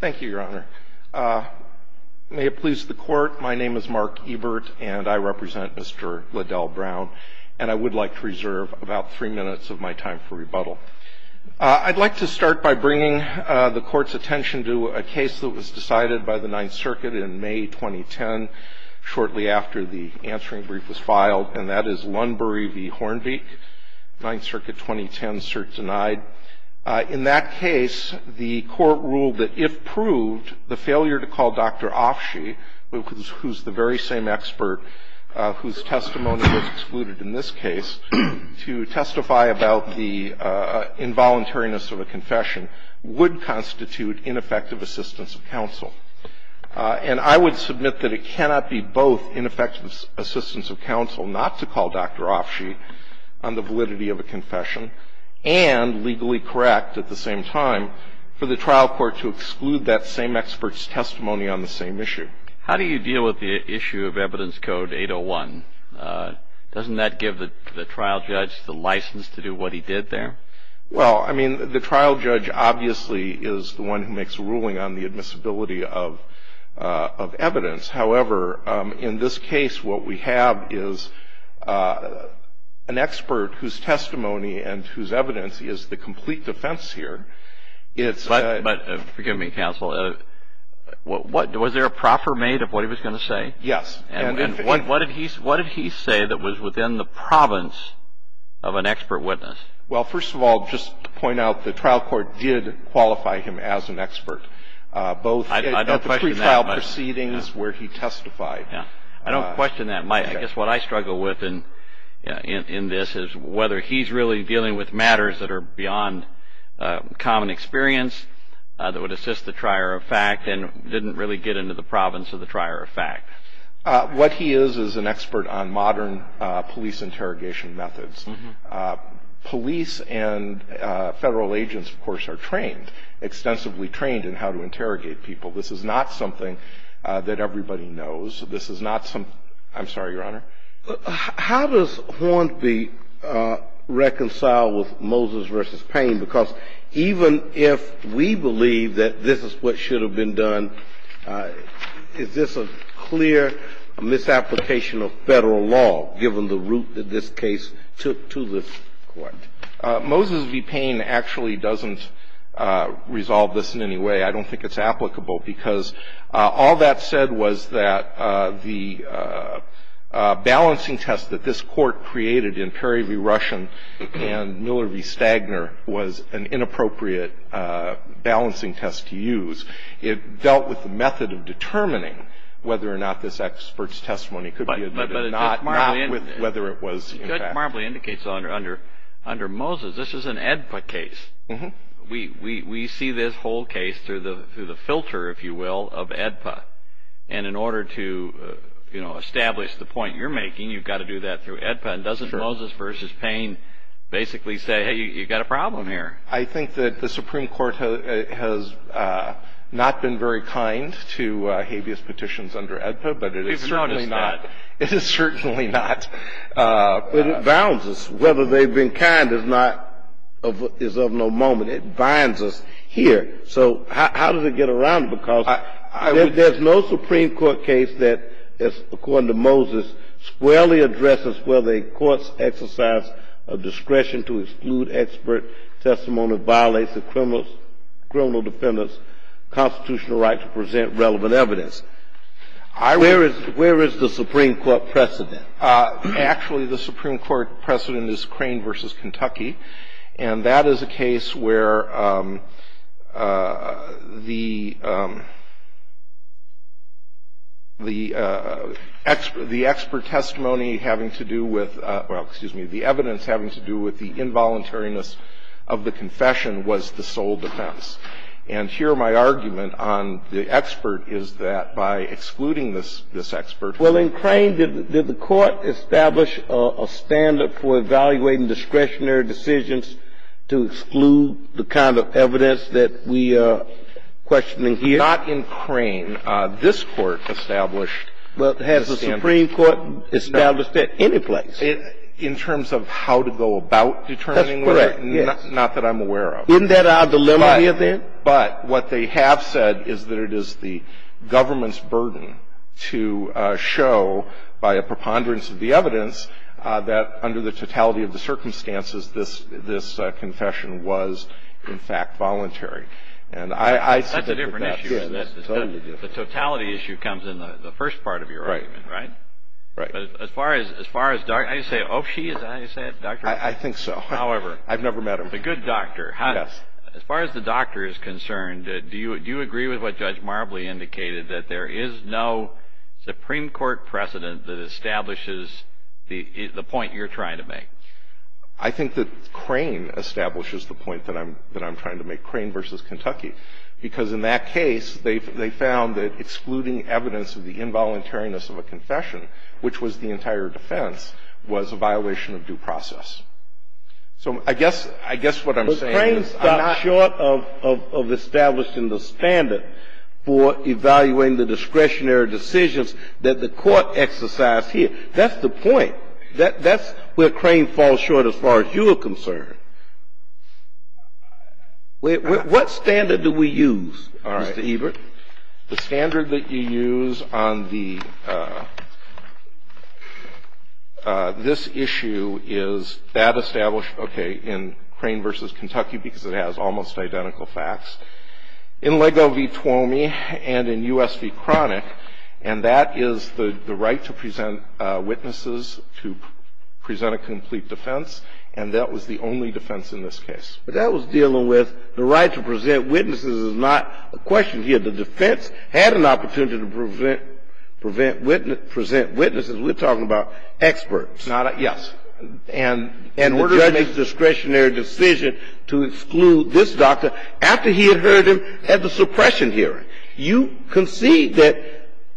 Thank you, Your Honor. May it please the Court, my name is Mark Ebert, and I represent Mr. Ladell Brown, and I would like to reserve about three minutes of my time for rebuttal. I'd like to start by bringing the Court's attention to a case that was decided by the Ninth Circuit in May 2010, shortly after the answering brief was filed, and that is Lunbury v. Hornbeek, Ninth Circuit 2010, cert denied. In that case, the Court ruled that if proved, the failure to call Dr. Offshee, who's the very same expert whose testimony was excluded in this case, to testify about the involuntariness of a confession would constitute ineffective assistance of counsel. And I would submit that it cannot be both ineffective assistance of counsel not to call Dr. Offshee on the validity of a confession, and legally correct at the same time, for the trial court to exclude that same expert's testimony on the same issue. How do you deal with the issue of Evidence Code 801? Doesn't that give the trial judge the license to do what he did there? Well, I mean, the trial judge obviously is the one who makes the ruling on the admissibility of evidence. However, in this case, what we have is an expert whose testimony and whose evidence is the complete defense here. But forgive me, counsel, was there a proper mate of what he was going to say? Yes. And what did he say that was within the province of an expert witness? Well, first of all, just to point out, the trial court did qualify him as an expert, both at the pre-trial proceedings where he testified. I don't question that much. I guess what I struggle with in this is whether he's really dealing with matters that are beyond common experience, that would assist the trier of fact, and didn't really get into the province of the trier of fact. What he is is an expert on modern police interrogation methods. Police and federal agents, of course, are trained, extensively trained in how to interrogate people. This is not something that everybody knows. This is not some – I'm sorry, Your Honor? How does Hornby reconcile with Moses v. Payne? Because even if we believe that this is what should have been done, is this a clear misapplication of Federal law, given the route that this case took to this Court? Moses v. Payne actually doesn't resolve this in any way. I don't think it's applicable, because all that said was that the balancing test that this Court created in Perry v. Rushen and Miller v. Stagner was an inappropriate balancing test to use. It dealt with the method of determining whether or not this expert's testimony could be admitted or not, not with whether it was in fact. But it just marbly indicates under Moses, this is an AEDPA case. Mm-hmm. We see this whole case through the filter, if you will, of AEDPA. And in order to establish the point you're making, you've got to do that through AEDPA. And doesn't Moses v. Payne basically say, hey, you've got a problem here? I think that the Supreme Court has not been very kind to habeas petitions under AEDPA, but it is certainly not. We've noticed that. It is certainly not. But it bounds us. Whether they've been kind is of no moment. It binds us here. So how does it get around? Because there's no Supreme Court case that, according to Moses, squarely addresses whether a court's exercise of discretion to exclude expert testimony violates the criminal defendant's constitutional right to present relevant evidence. Where is the Supreme Court precedent? Actually, the Supreme Court precedent is Crane v. Kentucky. And that is a case where the expert testimony having to do with, well, excuse me, the evidence having to do with the involuntariness of the confession was the sole defense. And here my argument on the expert is that by excluding this expert. Well, in Crane, did the Court establish a standard for evaluating discretionary decisions to exclude the kind of evidence that we are questioning here? Not in Crane. This Court established a standard. Well, has the Supreme Court established that any place? In terms of how to go about determining whether? That's correct, yes. Not that I'm aware of. Isn't that our dilemma here, then? But what they have said is that it is the government's burden to show, by a preponderance of the evidence, that under the totality of the circumstances, this confession was, in fact, voluntary. And I said that. That's a different issue. The totality issue comes in the first part of your argument, right? Right. But as far as Dr. Oshii, is that how you say it? I think so. However. I've never met him. The good doctor. Yes. As far as the doctor is concerned, do you agree with what Judge Marbley indicated, that there is no Supreme Court precedent that establishes the point you're trying to make? I think that Crane establishes the point that I'm trying to make, Crane versus Kentucky. Because in that case, they found that excluding evidence of the involuntariness of a confession, which was the entire defense, was a violation of due process. So I guess, I guess what I'm saying is. But Crane stopped short of establishing the standard for evaluating the discretionary decisions that the court exercised here. That's the point. That's where Crane falls short as far as you're concerned. What standard do we use, Mr. Ebert? The standard that you use on the, this issue is that established, okay, in Crane versus Kentucky, because it has almost identical facts. In Lego v. Tuomi and in U.S. v. Cronic, and that is the right to present witnesses to present a complete defense, and that was the only defense in this case. But that was dealing with the right to present witnesses is not a question here. The defense had an opportunity to present witnesses. We're talking about experts. Yes. And the judge made the discretionary decision to exclude this doctor after he had heard him at the suppression hearing. You concede that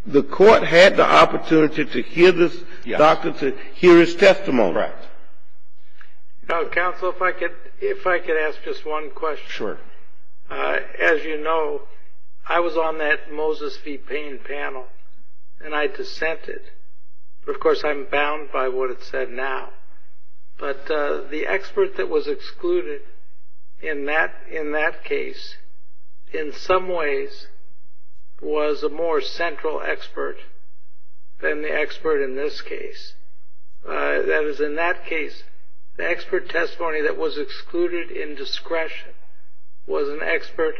the court had the opportunity to hear this doctor, to hear his testimony. Right. Counsel, if I could ask just one question. Sure. As you know, I was on that Moses v. Payne panel, and I dissented. Of course, I'm bound by what it said now. But the expert that was excluded in that case, in some ways, was a more central expert than the expert in this case. That is, in that case, the expert testimony that was excluded in discretion was an expert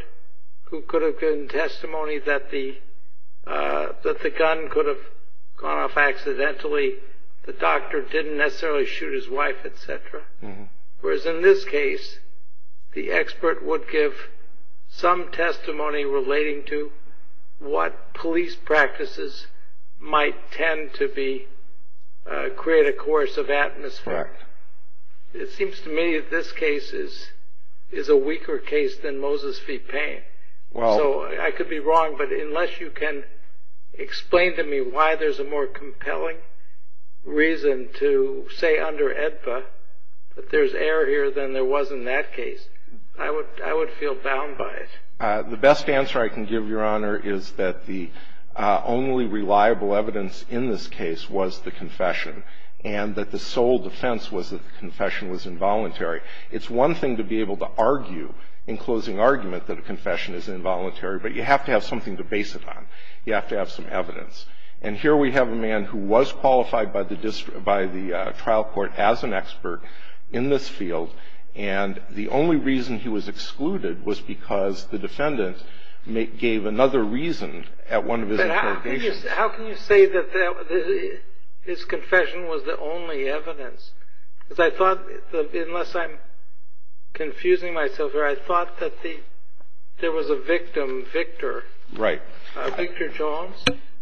who could have given testimony that the gun could have gone off accidentally, the doctor didn't necessarily shoot his wife, et cetera. Whereas in this case, the expert would give some testimony relating to what police practices might tend to create a course of atmosphere. Correct. It seems to me that this case is a weaker case than Moses v. Payne. Well. So I could be wrong, but unless you can explain to me why there's a more compelling reason to say under AEDPA that there's error here than there was in that case, I would feel bound by it. The best answer I can give, Your Honor, is that the only reliable evidence in this case was the confession and that the sole defense was that the confession was involuntary. It's one thing to be able to argue in closing argument that a confession is involuntary, but you have to have something to base it on. You have to have some evidence. And here we have a man who was qualified by the trial court as an expert in this field, and the only reason he was excluded was because the defendant gave another reason at one of his interrogations. But how can you say that this confession was the only evidence? Because I thought, unless I'm confusing myself here, I thought that there was a victim, Victor. Right. Victor Jones.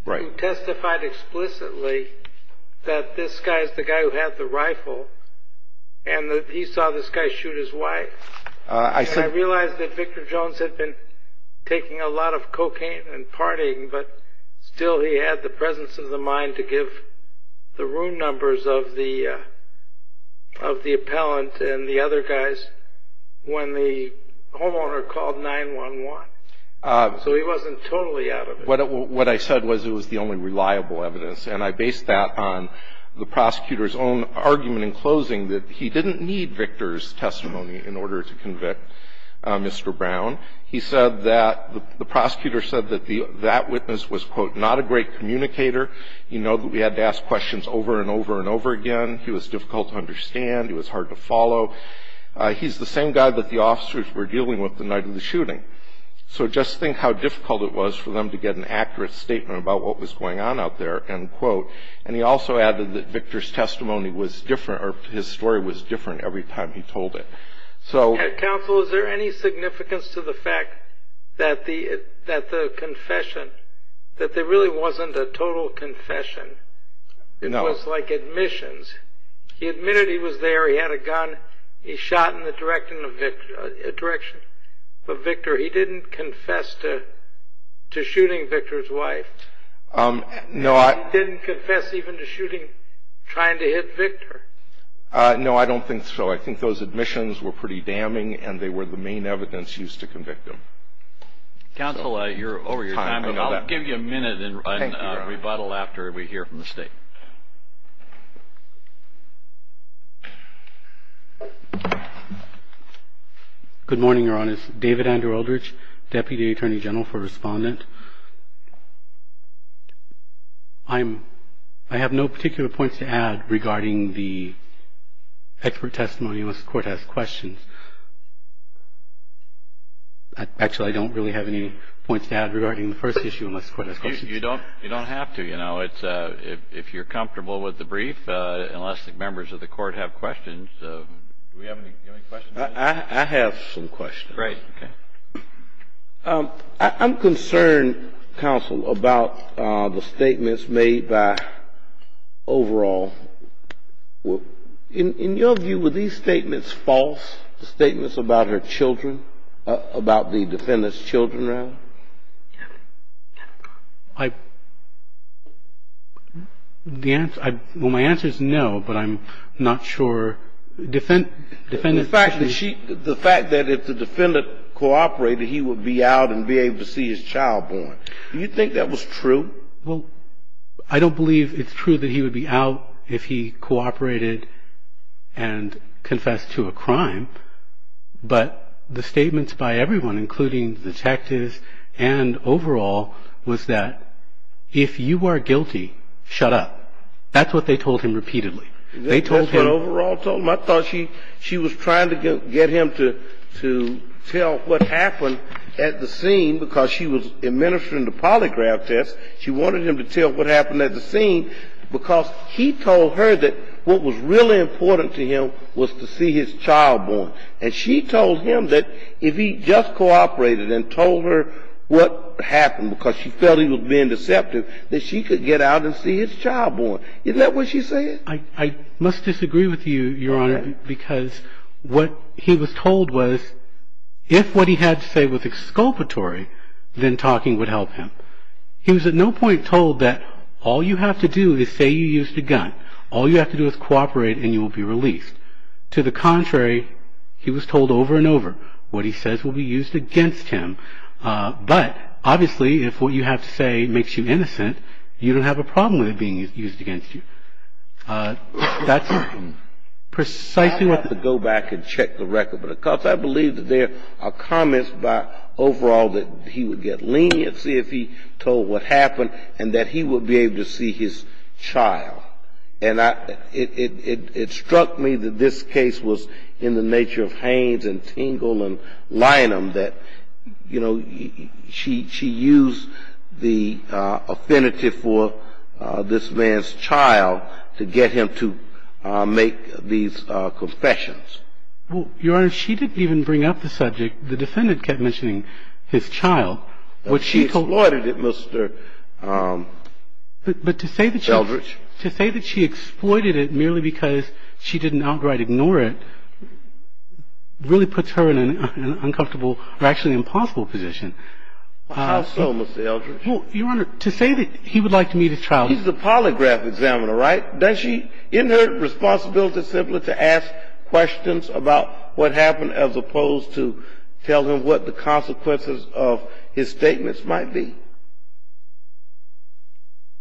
Right. You testified explicitly that this guy is the guy who had the rifle and that he saw this guy shoot his wife. And I realized that Victor Jones had been taking a lot of cocaine and partying, but still he had the presence of the mind to give the room numbers of the appellant and the other guys when the homeowner called 911. So he wasn't totally out of it. What I said was it was the only reliable evidence, and I based that on the prosecutor's own argument in closing that he didn't need Victor's testimony in order to convict Mr. Brown. He said that the prosecutor said that that witness was, quote, not a great communicator. You know that we had to ask questions over and over and over again. He was difficult to understand. He was hard to follow. He's the same guy that the officers were dealing with the night of the shooting. So just think how difficult it was for them to get an accurate statement about what was going on out there, end quote. And he also added that Victor's testimony was different, or his story was different every time he told it. Counsel, is there any significance to the fact that the confession, that there really wasn't a total confession? No. It was like admissions. He admitted he was there. He had a gun. He shot in the direction of Victor. He didn't confess to shooting Victor's wife. He didn't confess even to shooting, trying to hit Victor. No, I don't think so. I think those admissions were pretty damning, and they were the main evidence used to convict him. Counsel, you're over your time. I'll give you a minute and rebuttal after we hear from the State. Good morning, Your Honors. David Andrew Eldridge, Deputy Attorney General for Respondent. I have no particular points to add regarding the expert testimony unless the Court has questions. Actually, I don't really have any points to add regarding the first issue unless the Court has questions. You don't have to. You know, if you're comfortable with the brief, unless the members of the Court have questions. Do we have any questions? I have some questions. Great. Okay. I'm concerned, Counsel, about the statements made by overall. In your view, were these statements false, the statements about her children, about the defendant's children, rather? Well, my answer is no, but I'm not sure. The fact that if the defendant cooperated, he would be out and be able to see his child born, do you think that was true? Well, I don't believe it's true that he would be out if he cooperated and confessed to a crime, but the statements by everyone, including detectives and overall, was that if you are guilty, shut up. That's what they told him repeatedly. That's what overall told him? I thought she was trying to get him to tell what happened at the scene because she was administering the polygraph test. She wanted him to tell what happened at the scene because he told her that what was really important to him was to see his child born. And she told him that if he just cooperated and told her what happened because she felt he was being deceptive, that she could get out and see his child born. Isn't that what she said? I must disagree with you, Your Honor, because what he was told was if what he had to say was exculpatory, then talking would help him. He was at no point told that all you have to do is say you used a gun. All you have to do is cooperate and you will be released. To the contrary, he was told over and over what he says will be used against him. But, obviously, if what you have to say makes you innocent, you don't have a problem with it being used against you. That's precisely what... I'd like to go back and check the record, because I believe that there are comments by overall that he would get leniency if he told what happened and that he would be able to see his child. And it struck me that this case was in the nature of Haines and Tingle and Lynham that, you know, she used the affinity for this man's child to get him to make these confessions. Well, Your Honor, she didn't even bring up the subject. The defendant kept mentioning his child. She exploited it, Mr. Eldridge. But to say that she exploited it merely because she didn't outright ignore it really puts her in an uncomfortable or actually impossible position. How so, Mr. Eldridge? Well, Your Honor, to say that he would like to meet his child... He's a polygraph examiner, right? Isn't her responsibility simply to ask questions about what happened as opposed to tell him what the consequences of his statements might be?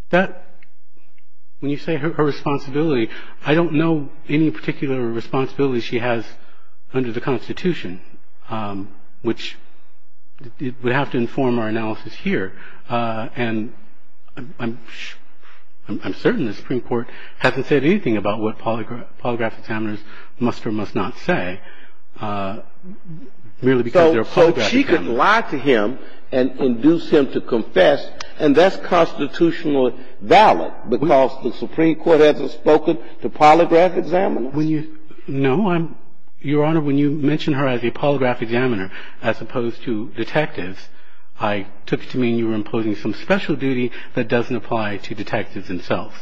When you say her responsibility, I don't know any particular responsibility she has under the Constitution, which would have to inform our analysis here. And I'm certain the Supreme Court hasn't said anything about what polygraph examiners must or must not say, merely because they're a polygraph examiner. So she can lie to him and induce him to confess, and that's constitutionally valid because the Supreme Court hasn't spoken to polygraph examiners? No. Your Honor, when you mentioned her as a polygraph examiner as opposed to detectives, I took it to mean you were imposing some special duty that doesn't apply to detectives themselves.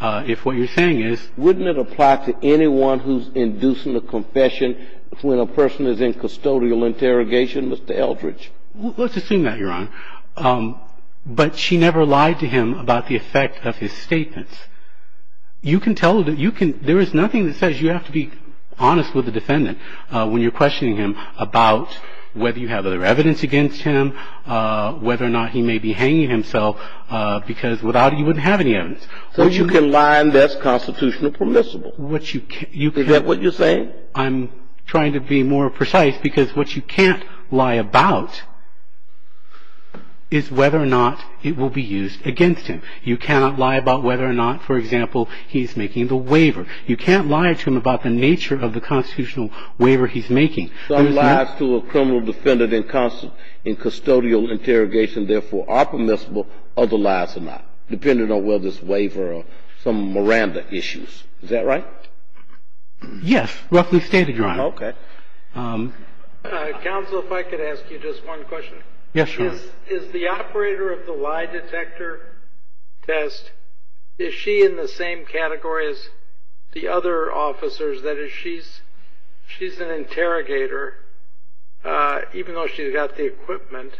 If what you're saying is... Wouldn't it apply to anyone who's inducing a confession when a person is in custodial interrogation, Mr. Eldridge? Let's assume that, Your Honor. But she never lied to him about the effect of his statements. You can tell... There is nothing that says you have to be honest with the defendant when you're questioning him about whether you have other evidence against him, whether or not he may be hanging himself, because without it, you wouldn't have any evidence. So you can lie and that's constitutionally permissible. Is that what you're saying? I'm trying to be more precise because what you can't lie about is whether or not it will be used against him. You cannot lie about whether or not, for example, he's making the waiver. You can't lie to him about the nature of the constitutional waiver he's making. Some lies to a criminal defendant in custodial interrogation, therefore, are permissible. Other lies are not, depending on whether it's waiver or some Miranda issues. Is that right? Yes, roughly stated, Your Honor. Okay. Counsel, if I could ask you just one question. Yes, Your Honor. Is the operator of the lie detector test, is she in the same category as the other officers? That is, she's an interrogator, even though she's got the equipment,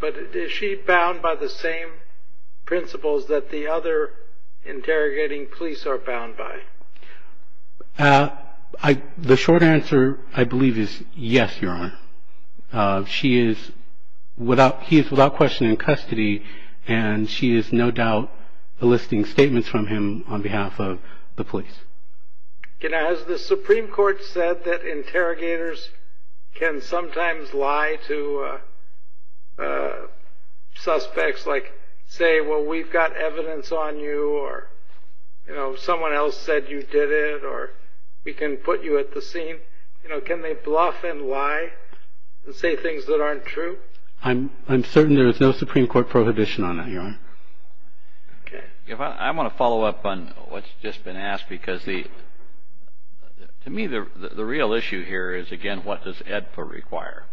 but is she bound by the same principles that the other interrogating police are bound by? The short answer, I believe, is yes, Your Honor. He is without question in custody, and she is no doubt eliciting statements from him on behalf of the police. Has the Supreme Court said that interrogators can sometimes lie to suspects, like say, well, we've got evidence on you, or someone else said you did it, or we can put you at the scene? You know, can they bluff and lie and say things that aren't true? I'm certain there is no Supreme Court prohibition on that, Your Honor. Okay. I want to follow up on what's just been asked because, to me, the real issue here is, again, what does AEDPA require?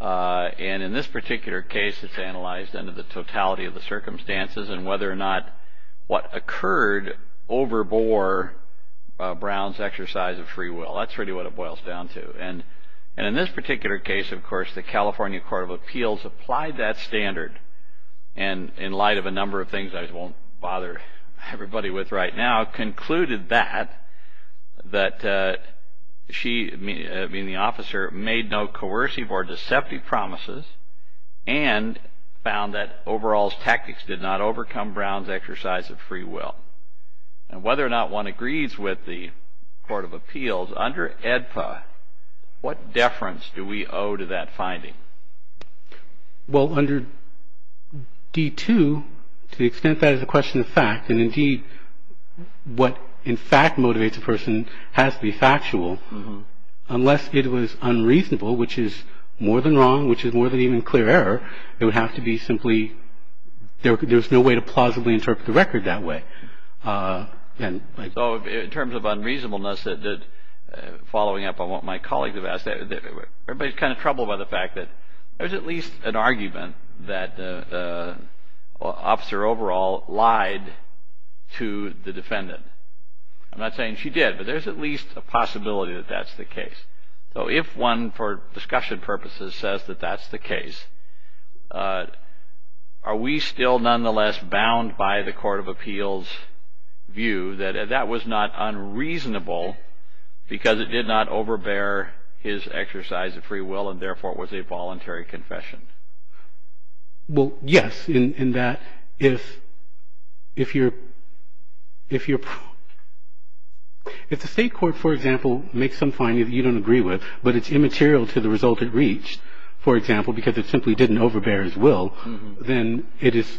And in this particular case, it's analyzed under the totality of the circumstances and whether or not what occurred overbore Brown's exercise of free will. That's really what it boils down to. And in this particular case, of course, the California Court of Appeals applied that standard, and in light of a number of things I won't bother everybody with right now, concluded that she, meaning the officer, made no coercive or deceptive promises and found that overall's tactics did not overcome Brown's exercise of free will. And whether or not one agrees with the Court of Appeals, under AEDPA, what deference do we owe to that finding? Well, under D-2, to the extent that is a question of fact, and indeed what in fact motivates a person has to be factual, unless it was unreasonable, which is more than wrong, which is more than even clear error, it would have to be simply there's no way to plausibly interpret the record that way. So in terms of unreasonableness, following up on what my colleagues have asked, everybody's kind of troubled by the fact that there's at least an argument that the officer overall lied to the defendant. I'm not saying she did, but there's at least a possibility that that's the case. So if one, for discussion purposes, says that that's the case, are we still nonetheless bound by the Court of Appeals' view that that was not unreasonable because it did not overbear his exercise of free will and therefore was a voluntary confession? Well, yes, in that if the state court, for example, makes some finding that you don't agree with, but it's immaterial to the result it reached, for example, because it simply didn't overbear his will, then it is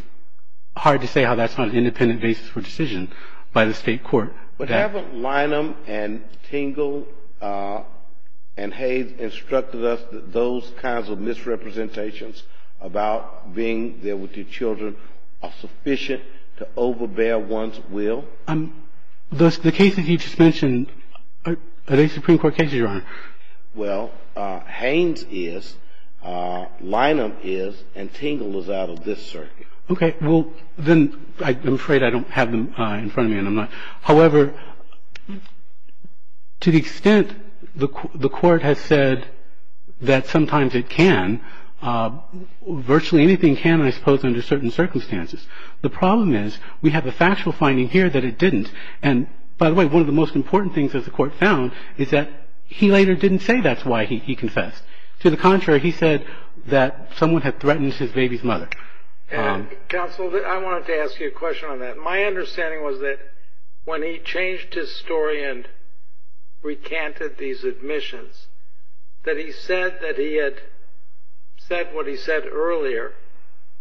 hard to say how that's not an independent basis for decision by the state court. But haven't Lynham and Tingle and Haynes instructed us that those kinds of misrepresentations about being there with your children are sufficient to overbear one's will? The cases you just mentioned, are they Supreme Court cases, Your Honor? Well, Haynes is, Lynham is, and Tingle is out of this circuit. Okay, well, then I'm afraid I don't have them in front of me, and I'm not. However, to the extent the Court has said that sometimes it can, virtually anything can, I suppose, under certain circumstances. The problem is we have a factual finding here that it didn't. And by the way, one of the most important things that the Court found is that he later didn't say that's why he confessed. To the contrary, he said that someone had threatened his baby's mother. Counsel, I wanted to ask you a question on that. My understanding was that when he changed his story and recanted these admissions, that he said that he had said what he said earlier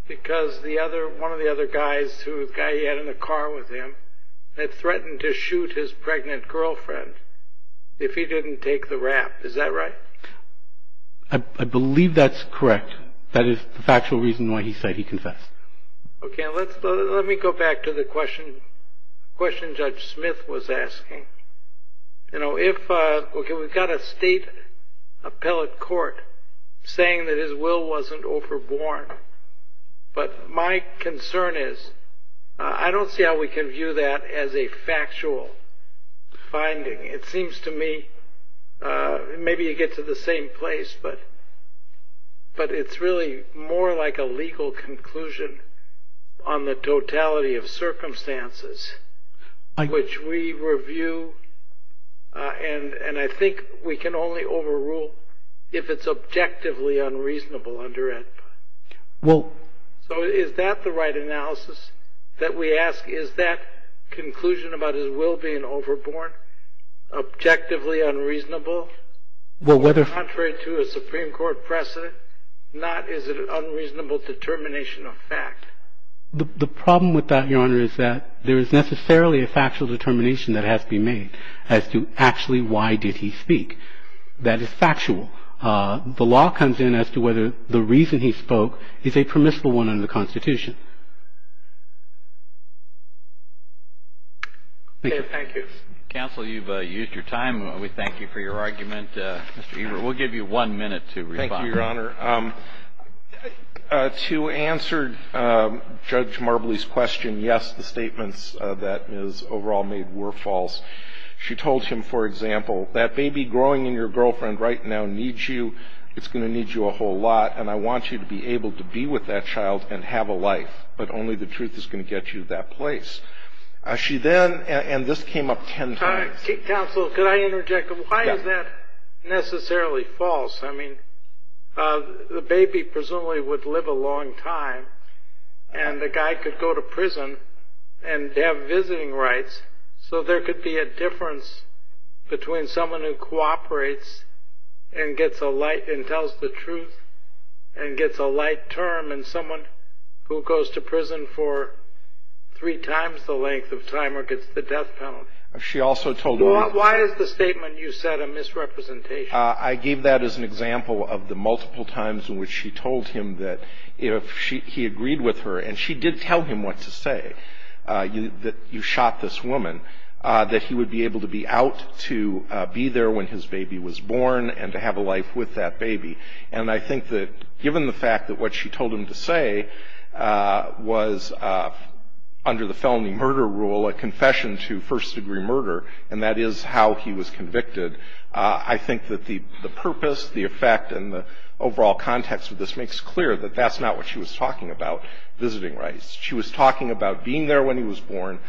because one of the other guys, the guy he had in the car with him, had threatened to shoot his pregnant girlfriend if he didn't take the rap. Is that right? I believe that's correct. That is the factual reason why he said he confessed. Okay, let me go back to the question Judge Smith was asking. You know, if we've got a state appellate court saying that his will wasn't overborne, but my concern is I don't see how we can view that as a factual finding. It seems to me maybe you get to the same place, but it's really more like a legal conclusion on the totality of circumstances, which we review and I think we can only overrule if it's objectively unreasonable under it. So is that the right analysis that we ask? Is that conclusion about his will being overborne objectively unreasonable? Contrary to a Supreme Court precedent, not is it an unreasonable determination of fact? The problem with that, Your Honor, is that there is necessarily a factual determination that has to be made as to actually why did he speak. That is factual. The law comes in as to whether the reason he spoke is a permissible one under the Constitution. Thank you. Counsel, you've used your time. We thank you for your argument. Mr. Ebert, we'll give you one minute to respond. Thank you, Your Honor. To answer Judge Marbley's question, yes, the statements that Ms. Overall made were false. She told him, for example, that baby growing in your girlfriend right now needs you. It's going to need you a whole lot, and I want you to be able to be with that child and have a life, but only the truth is going to get you that place. She then, and this came up ten times. Counsel, could I interject? Why is that necessarily false? I mean, the baby presumably would live a long time, and the guy could go to prison and have visiting rights, so there could be a difference between someone who cooperates and tells the truth and gets a light term and someone who goes to prison for three times the length of time or gets the death penalty. Why is the statement you said a misrepresentation? I gave that as an example of the multiple times in which she told him that if he agreed with her, and she did tell him what to say, that you shot this woman, that he would be able to be out to be there when his baby was born and to have a life with that baby. And I think that given the fact that what she told him to say was, under the felony murder rule, a confession to first-degree murder, and that is how he was convicted, I think that the purpose, the effect, and the overall context of this makes clear that that's not what she was talking about, visiting rights. She was talking about being there when he was born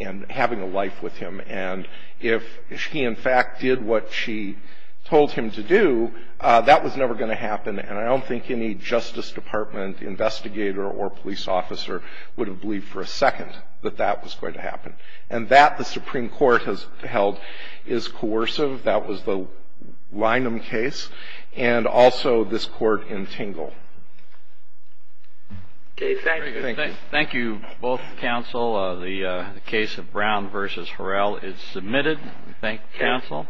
and having a life with him, and if he, in fact, did what she told him to do, that was never going to happen, and I don't think any Justice Department investigator or police officer would have believed for a second that that was going to happen. And that the Supreme Court has held is coercive. That was the Lynham case, and also this court in Tingle. Okay, thank you. Thank you, both counsel. The case of Brown v. Horrell is submitted. Thank you, counsel.